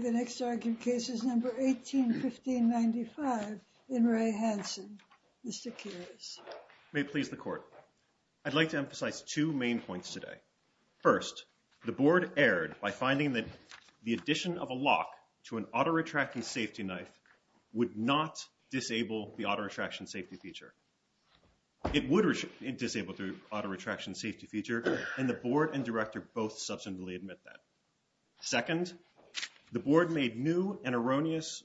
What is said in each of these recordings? May it please the court. I'd like to emphasize two main points today. First, the board erred by finding that the addition of a lock to an auto retracting safety knife would not disable the auto retraction safety feature. It would disable the auto retraction safety feature and the board and director both substantively admit that. Second, the board made a new and erroneous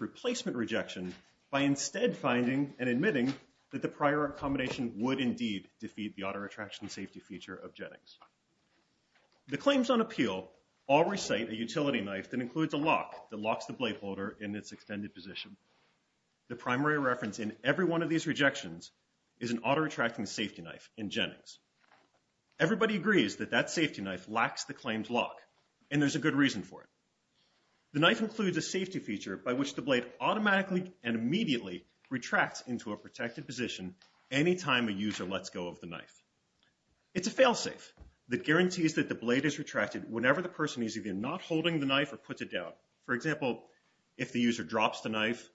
replacement rejection by instead finding and admitting that the prior accommodation would indeed defeat the appeal all recite a utility knife that includes a lock that locks the blade holder in its extended position. The primary reference in every one of these rejections is an auto retracting safety knife in Jennings. Everybody agrees that that safety knife lacks the claimed lock and there's a good reason for it. The knife includes a safety feature by which the blade automatically and immediately retracts into a protected position anytime a user lets go of the knife. It's a fail whenever the person is either not holding the knife or puts it down. For example, if the user drops the knife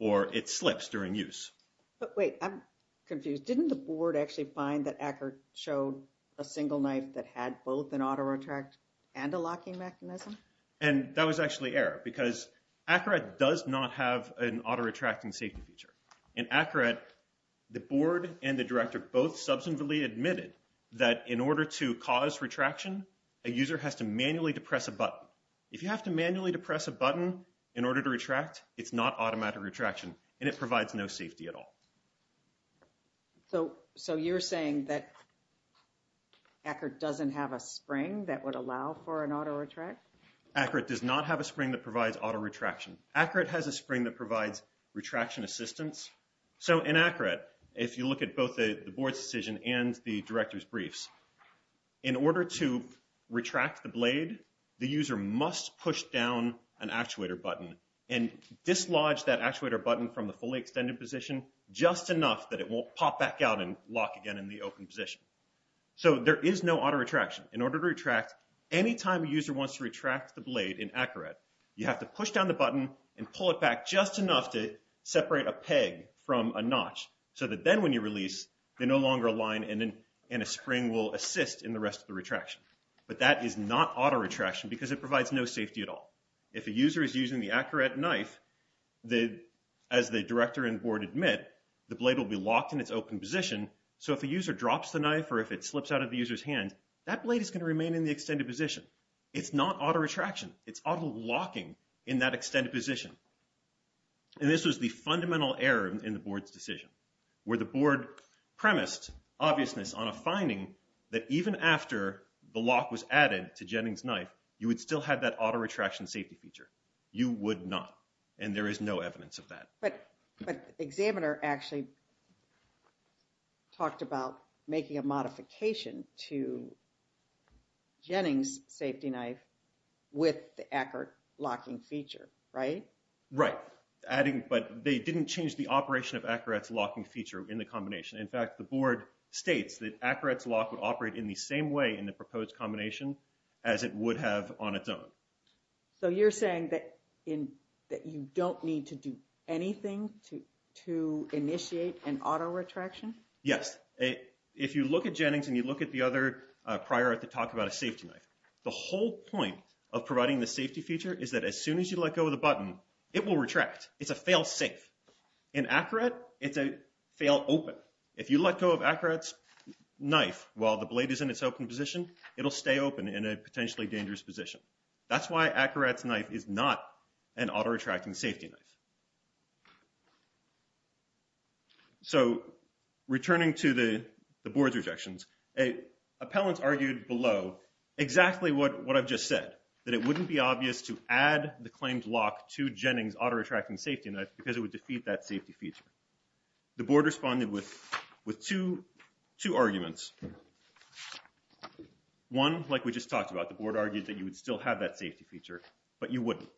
or it slips during use. But wait, I'm confused. Didn't the board actually find that Ackert showed a single knife that had both an auto retract and a locking mechanism? And that was actually error because Ackert does not have an auto retracting safety feature. In Ackert, the board and the director both substantively admitted that in order to cause retraction, a user has to manually depress a button. If you have to manually depress a button in order to retract, it's not automatic retraction and it provides no safety at all. So you're saying that Ackert doesn't have a spring that would allow for an auto retract? Ackert does not have a spring that provides auto retraction. Ackert has a spring that provides retraction assistance. So in Ackert, if you look at both the board's decision and the director's briefs, in order to retract the blade, the user must push down an actuator button and dislodge that actuator button from the fully extended position just enough that it won't pop back out and lock again in the open position. So there is no auto retraction. In order to retract, anytime a user wants to retract the blade in Ackert, you have to push down the button and pull it back just enough to separate a peg from a notch so that then when you release, they no longer align and a spring will assist in the rest of the retraction. But that is not auto retraction because it provides no safety at all. If a user is using the Ackert knife, as the director and board admit, the blade will be locked in its open position. So if a user drops the knife or if it slips out of the user's hand, that blade is going to remain in the extended position. It's not auto retraction. It's auto locking in that extended position. And this was the fundamental error in the board's decision where the board premised obviousness on a finding that even after the lock was added to Jennings knife, you would still have that auto retraction safety feature. You would not. And there is no evidence of that. But the examiner actually talked about making a modification to Jennings safety knife with the Ackert locking feature, right? Right. But they didn't change the operation of Ackert's locking feature in the combination. In fact, the board states that Ackert's lock would operate in the same way in the proposed combination as it would have on its own. So you're saying that you don't need to do anything to initiate an auto retraction? Yes. If you look at Jennings and you look at the other prior to talk about a safety knife, the whole point of providing the safety feature is that as soon as you let go of the button, it will retract. It's a fail safe. In Ackert, it's a fail open. If you let go of Ackert's knife while the blade is in its open position, it'll stay open in a potentially dangerous position. That's why Ackert's knife is not an auto retracting safety knife. So returning to the board's rejections, appellants argued below exactly what I've just said, that it wouldn't be obvious to add the claimed lock to Jennings auto retracting safety knife because it would defeat that safety feature. The board responded with two arguments. One, like we just talked about, the board argued that you would still have that safety feature, but you wouldn't.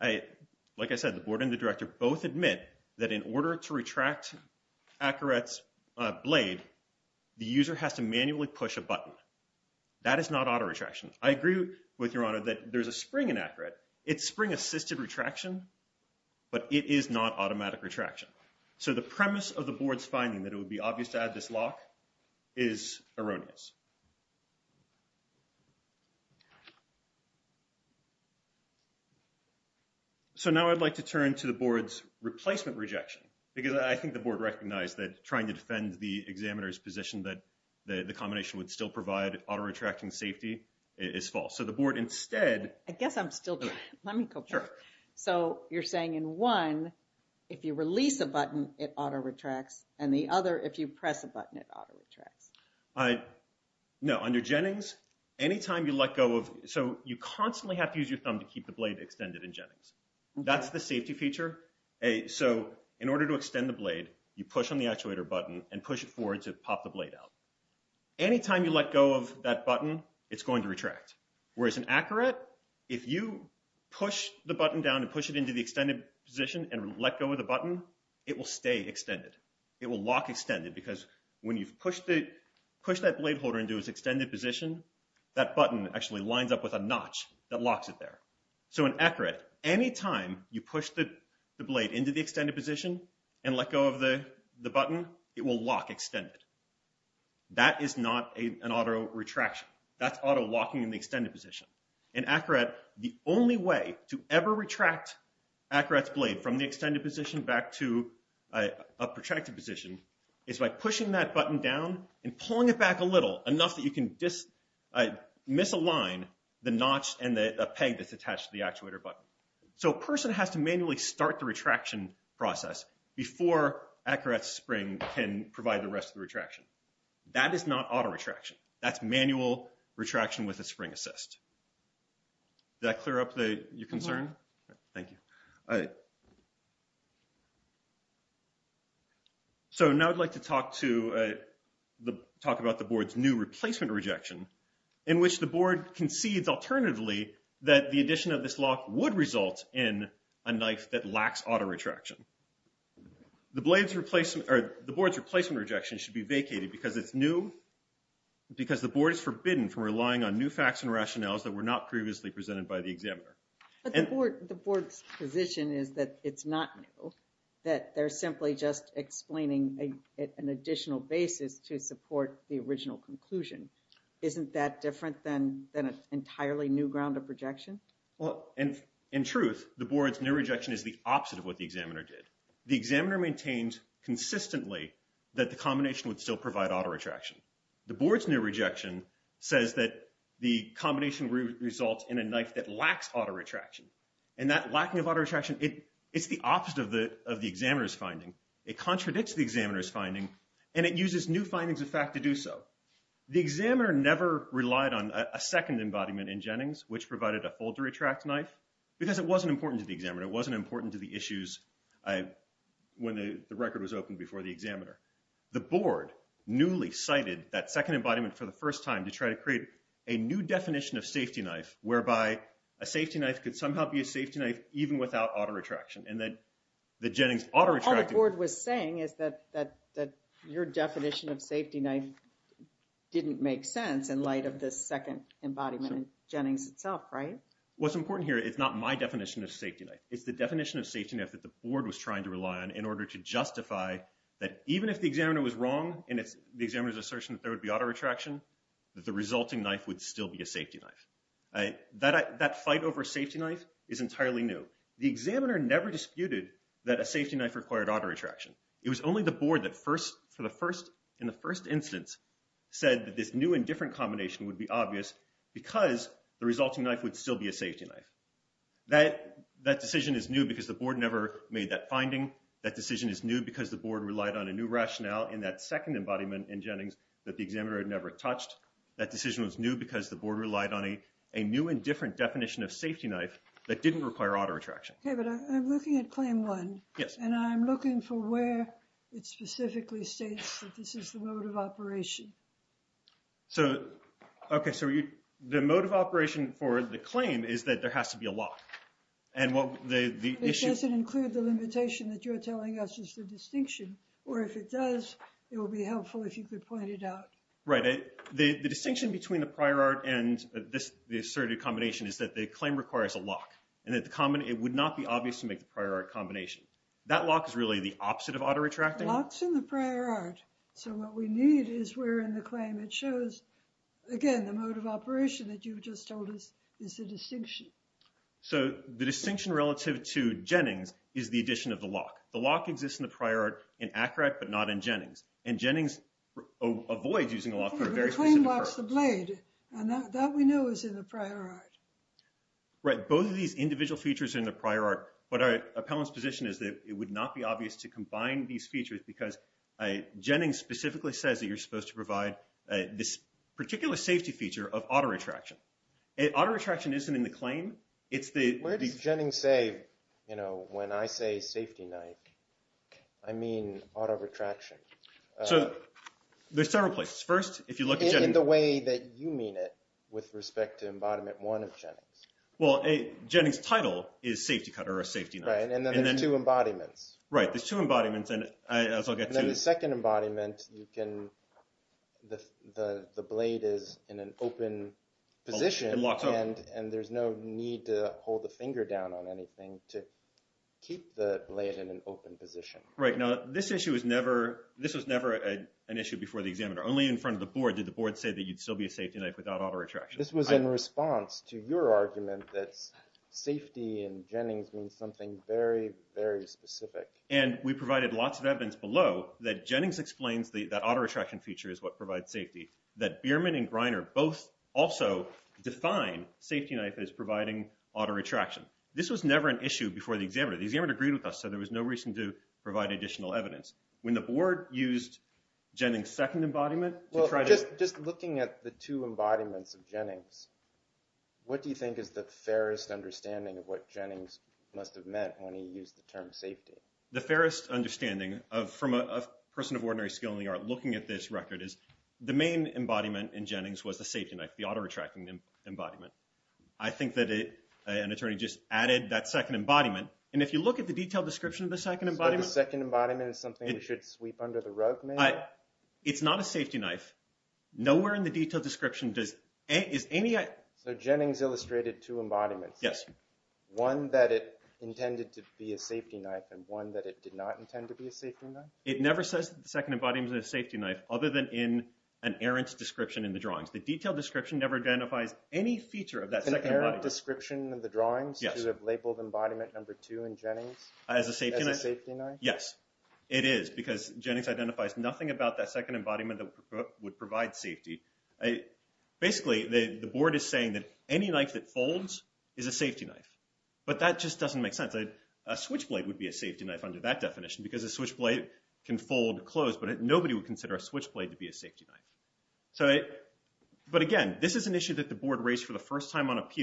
Like I said, the board and the director both admit that in order to retract Ackert's blade, the user has to manually push a button. That is not auto retraction. I agree with your honor that there's a spring in Ackert. It's spring assisted retraction, but it is not automatic retraction. So the premise of the board's finding that it would be obvious to add this lock is erroneous. So now I'd like to turn to the board's that trying to defend the examiner's position that the combination would still provide auto retracting safety is false. So the board instead... I guess I'm still doing it. Let me go back. So you're saying in one, if you release a button, it auto retracts and the other, if you press a button, it auto retracts. No, under Jennings, anytime you let go of... So you constantly have to use your thumb to keep the blade extended in Jennings. That's the safety feature. So in order to extend the blade, you push on the actuator button and push it forward to pop the blade out. Anytime you let go of that button, it's going to retract. Whereas in Ackert, if you push the button down and push it into the extended position and let go of the button, it will stay extended. It will lock extended because when you've pushed that blade holder into its extended position, that button actually lines up with a notch that locks it there. So in Ackert, anytime you push the blade into the extended position and let go of the button, it will lock extended. That is not an auto retraction. That's auto locking in the extended position. In Ackert, the only way to ever retract Ackert's blade from the extended position back to a protracted position is by pushing that button down and pulling it back a little, enough that you can misalign the process before Ackert's spring can provide the rest of the retraction. That is not auto retraction. That's manual retraction with a spring assist. Did that clear up your concern? Thank you. So now I'd like to talk about the board's new replacement rejection, in which the board concedes alternatively that the addition of this lock would result in a knife that lacks auto retraction. The board's replacement rejection should be vacated because it's new, because the board is forbidden from relying on new facts and rationales that were not previously presented by the examiner. But the board's position is that it's not new, that they're simply just explaining an additional basis to support the original conclusion. Isn't that different than an entirely new ground of rejection? Well, in truth, the board's new rejection is the opposite of what the examiner did. The examiner maintained consistently that the combination would still provide auto retraction. The board's new rejection says that the combination results in a knife that lacks auto retraction. And that lacking of auto retraction, it's the opposite of the examiner's finding. It contradicts the examiner's finding, and it uses new findings of fact to do so. The examiner never relied on a second embodiment in Jennings, which provided a fold-to-retract knife, because it wasn't important to the examiner. It wasn't important to the issues when the record was opened before the examiner. The board newly cited that second embodiment for the first time to try to create a new definition of safety knife, whereby a safety knife could somehow be a safety knife even without auto retraction. Your definition of safety knife didn't make sense in light of this second embodiment in Jennings itself, right? What's important here, it's not my definition of safety knife. It's the definition of safety knife that the board was trying to rely on in order to justify that even if the examiner was wrong, and the examiner's assertion that there would be auto retraction, that the resulting knife would still be a safety knife. That fight over safety knife is entirely new. The examiner never disputed that a safety knife required auto retraction. It was only the board that in the first instance said that this new and different combination would be obvious because the resulting knife would still be a safety knife. That decision is new because the board never made that finding. That decision is new because the board relied on a new rationale in that second embodiment in Jennings that the examiner had never touched. That decision was new because the board relied on a new and different definition of safety knife that didn't require auto retraction. Okay, but I'm looking at claim one. Yes. And I'm looking for where it specifically states that this is the mode of operation. So, okay, so the mode of operation for the claim is that there has to be a lock. It doesn't include the limitation that you're telling us is the distinction, or if it does, it will be helpful if you could point it out. Right. The distinction between the prior art and the asserted combination is that the claim requires a lock and that the common, it would not be obvious to make the prior art combination. That lock is really the opposite of auto retracting. Lock's in the prior art, so what we need is we're in the claim. It shows, again, the mode of operation that you just told us is the distinction. So, the distinction relative to Jennings is the addition of the lock. The lock exists in the prior art in Accurate, but not in Jennings. And Jennings avoids using a lock for a very specific purpose. And that we know is in the prior art. Right. Both of these individual features are in the prior art, but our appellant's position is that it would not be obvious to combine these features because Jennings specifically says that you're supposed to provide this particular safety feature of auto retraction. Auto retraction isn't in the claim. Where does Jennings say, you know, when I say safety knife? I mean auto retraction. So, there's several places. First, if you look at Jennings. In the way that you mean it with respect to embodiment one of Jennings. Well, Jennings title is safety cutter or safety knife. Right, and then there's two embodiments. Right, there's two embodiments. And then the second embodiment, you can, the blade is in an open position and there's no need to hold the finger down on anything to keep the blade in an open position. Right. Now, this issue was never, this was never an issue before the examiner. Only in front of the board did the board say that you'd still be a safety knife without auto retraction. This was in response to your argument that safety in Jennings means something very, very specific. And we provided lots of evidence below that Jennings explains that auto retraction feature is what provides safety. That Bierman and Greiner both also define safety knife as providing auto retraction. This was never an issue before the examiner. The examiner agreed with us, so there was no reason to provide additional evidence. When the board used Jennings' second embodiment. Well, just looking at the two embodiments of Jennings, what do you think is the fairest understanding of what Jennings must have meant when he used the term safety? The fairest understanding from a person of ordinary skill in the art looking at this record is the main embodiment in Jennings was the safety knife, the auto retracting embodiment. I think an attorney just added that second embodiment. And if you look at the detailed description of the second embodiment. So the second embodiment is something we should sweep under the rug maybe? It's not a safety knife. Nowhere in the detailed description does any... So Jennings illustrated two embodiments. Yes. One that it intended to be a safety knife and one that it did not intend to be a safety knife? It never says that the second embodiment is a safety knife other than in an errant description in the drawings. The detailed description never identifies any feature of that second embodiment. An errant description in the drawings to have labeled embodiment number two in Jennings as a safety knife? Yes. It is because Jennings identifies nothing about that second embodiment that would provide safety. Basically, the board is saying that any knife that folds is a safety knife. But that just doesn't make sense. A switchblade would be a safety knife under that definition because a switchblade can fold closed, but nobody would consider a switchblade to be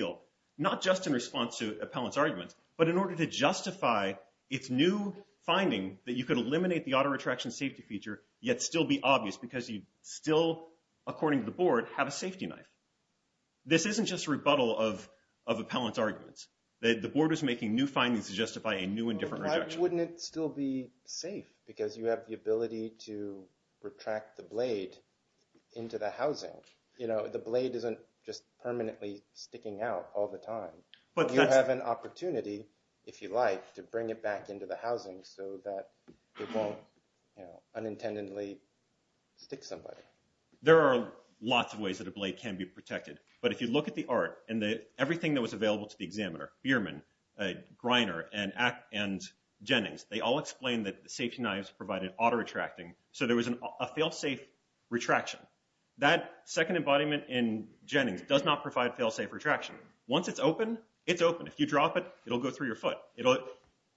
a not just in response to an appellant's argument, but in order to justify its new finding that you could eliminate the auto-retraction safety feature yet still be obvious because you still, according to the board, have a safety knife. This isn't just a rebuttal of an appellant's argument. The board is making new findings to justify a new and different rejection. Why wouldn't it still be safe? Because you have the ability to retract the blade into the housing. The blade isn't just permanently sticking out all the time. But you have an opportunity, if you like, to bring it back into the housing so that it won't unintentionally stick somebody. There are lots of ways that a blade can be protected. But if you look at the art and everything that was available to the examiner, Bierman, Greiner, and Jennings, they all explained that safety knives provided auto-retracting. So there was a fail-safe retraction. That second embodiment in Jennings does not provide fail-safe retraction. Once it's open, it's open. If you drop it, it'll go through your foot.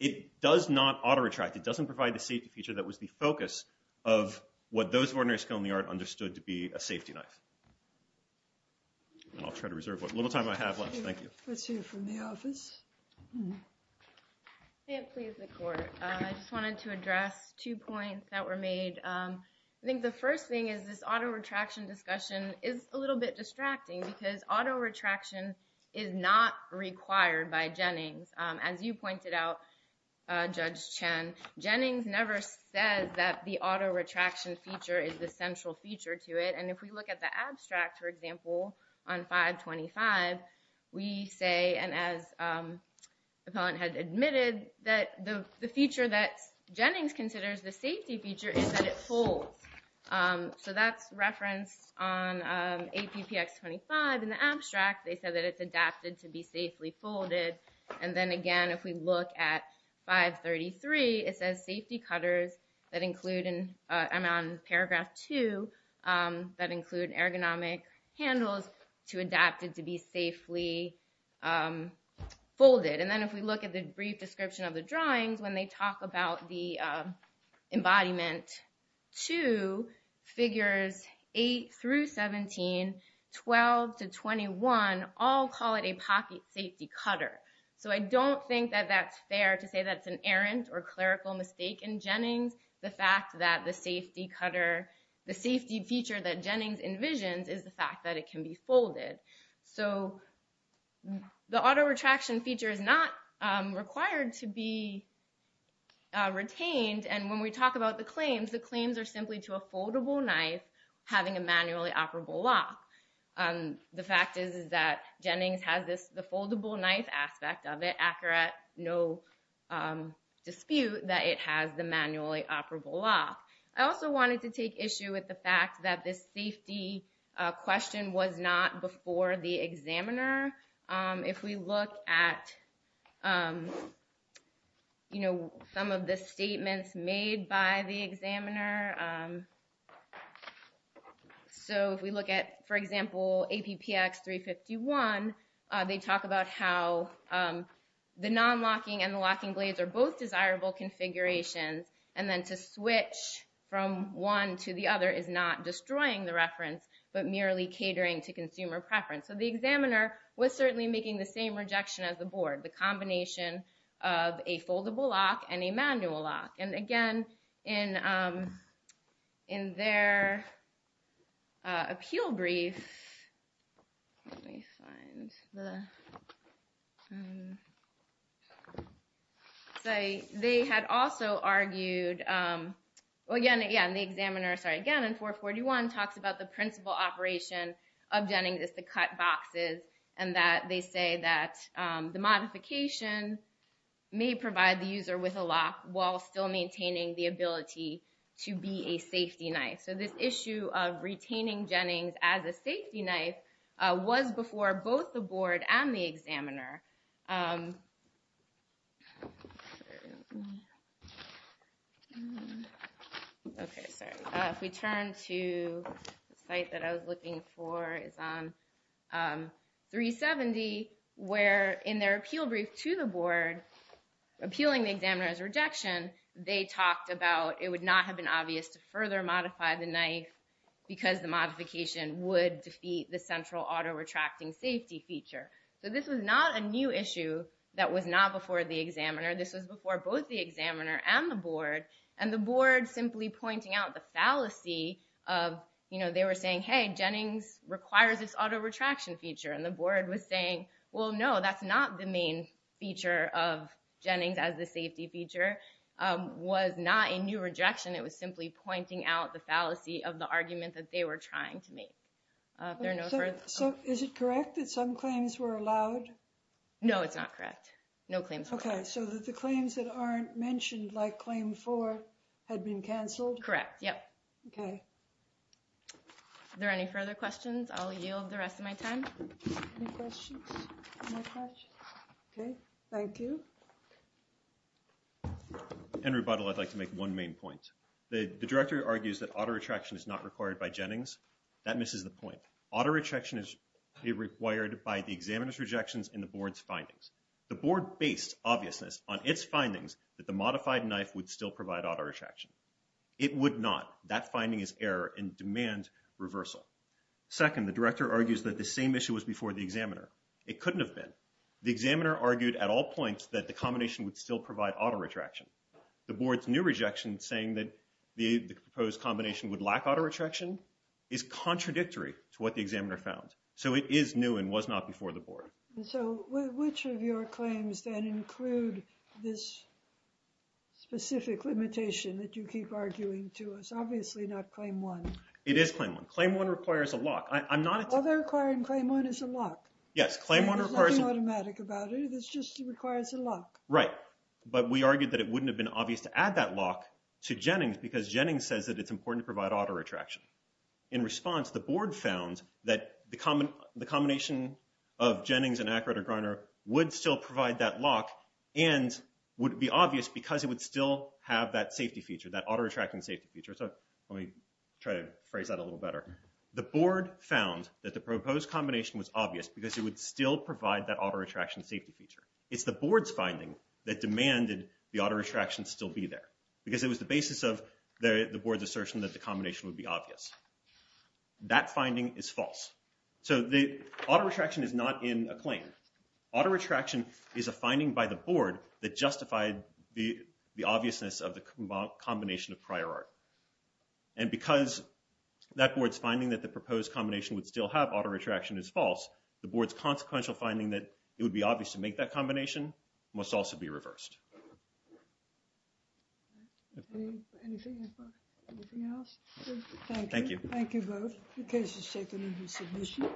It does not auto-retract. It doesn't provide the safety feature that was the focus of what those of ordinary skill in the art understood to be a safety knife. And I'll try to reserve what little time I have left. Thank you. Let's hear from the office. I can't please the court. I just wanted to address two points that were made. I think the first thing is this auto-retraction discussion is a little bit distracting because auto-retraction is not required by Jennings. As you pointed out, Judge Chen, Jennings never says that the auto-retraction feature is the central feature to it. And if we look at the appellant had admitted that the feature that Jennings considers the safety feature is that it folds. So that's referenced on APPX 25 in the abstract. They said that it's adapted to be safely folded. And then again, if we look at 533, it says safety cutters that include in the brief description of the drawings, when they talk about the embodiment two, figures eight through 17, 12 to 21, all call it a pocket safety cutter. So I don't think that that's fair to say that's an errant or clerical mistake in Jennings. The fact that the safety feature that Jennings envisions is the fact that it can be folded. So the auto-retraction feature is not required to be retained. And when we talk about the claims, the claims are simply to a foldable knife having a manually operable lock. The fact is that Jennings has this, the foldable knife aspect of it, accurate, no dispute that it has the manually operable lock. I also wanted to take issue with the fact that this safety question was not before the examiner. If we look at some of the statements made by the examiner. So if we look at, for example, APPX 351, they talk about how the non-locking and the from one to the other is not destroying the reference, but merely catering to consumer preference. So the examiner was certainly making the same rejection as the board, the combination of a foldable lock and a manual lock. And again, in their appeal brief, let me find the, so they had also argued, again, yeah, and the examiner, sorry, again, in 441 talks about the principal operation of Jennings is to cut boxes and that they say that the modification may provide the user with a lock while still maintaining the ability to be a safety knife. So this issue of was before both the board and the examiner. Okay, sorry. If we turn to the site that I was looking for is on 370, where in their appeal brief to the board, appealing the examiner's rejection, they talked about, it would not have been obvious to further modify the knife because the modification would defeat the central auto retracting safety feature. So this was not a new issue that was not before the examiner. This was before both the examiner and the board and the board simply pointing out the fallacy of, they were saying, hey, Jennings requires this auto retraction feature. And the board was saying, well, no, that's not the main feature of Jennings as the safety feature was not a new rejection. It was simply pointing out the fallacy of the argument that they were trying to make. If there are no further... So is it correct that some claims were allowed? No, it's not correct. No claims were allowed. Okay. So that the claims that aren't mentioned like claim four had been canceled? Correct. Yep. Okay. Are there any further questions? I'll yield the rest of my time. Any questions? Okay. Thank you. Henry Buttle, I'd like to make one main point. The director argues that auto retraction is not required by Jennings. That misses the point. Auto retraction is required by the examiner's rejections and the board's findings. The board based obviousness on its findings that the modified knife would still provide auto retraction. It would not. That finding is error and demand reversal. Second, the director argues that the same issue was before the examiner. It couldn't have been. The examiner argued at all points that the combination would still provide auto retraction. The board's new rejection saying that the proposed combination would lack auto retraction is contradictory to what the examiner found. So it is new and was not before the board. So which of your claims then include this specific limitation that you keep arguing to us? Obviously not claim one. It is claim one. Claim one requires a lock. I'm not... Other claim one is a lock. Yes. Claim one requires... There's nothing automatic about it. It just requires a lock. Right. But we argued that it wouldn't have been obvious to add that lock to Jennings because Jennings says that it's important to provide auto retraction. In response, the board found that the combination of Jennings and Akrader-Griner would still provide that lock and would be obvious because it would still have that safety feature, that auto retracting safety feature. So let me try to phrase that a little better. The board found that the proposed combination was obvious because it would still provide that auto retraction safety feature. It's the board's finding that demanded the auto retraction still be there because it was the basis of the board's assertion that the combination would be obvious. That finding is false. So the auto retraction is not in a claim. Auto retraction is a finding by the board that justified the obviousness of the combination of prior art. And because that board's finding that the proposed combination would still have auto retraction is false, the board's consequential finding that it would be obvious to make that combination must also be reversed. Anything else? Thank you. Thank you both. The case is taken into submission.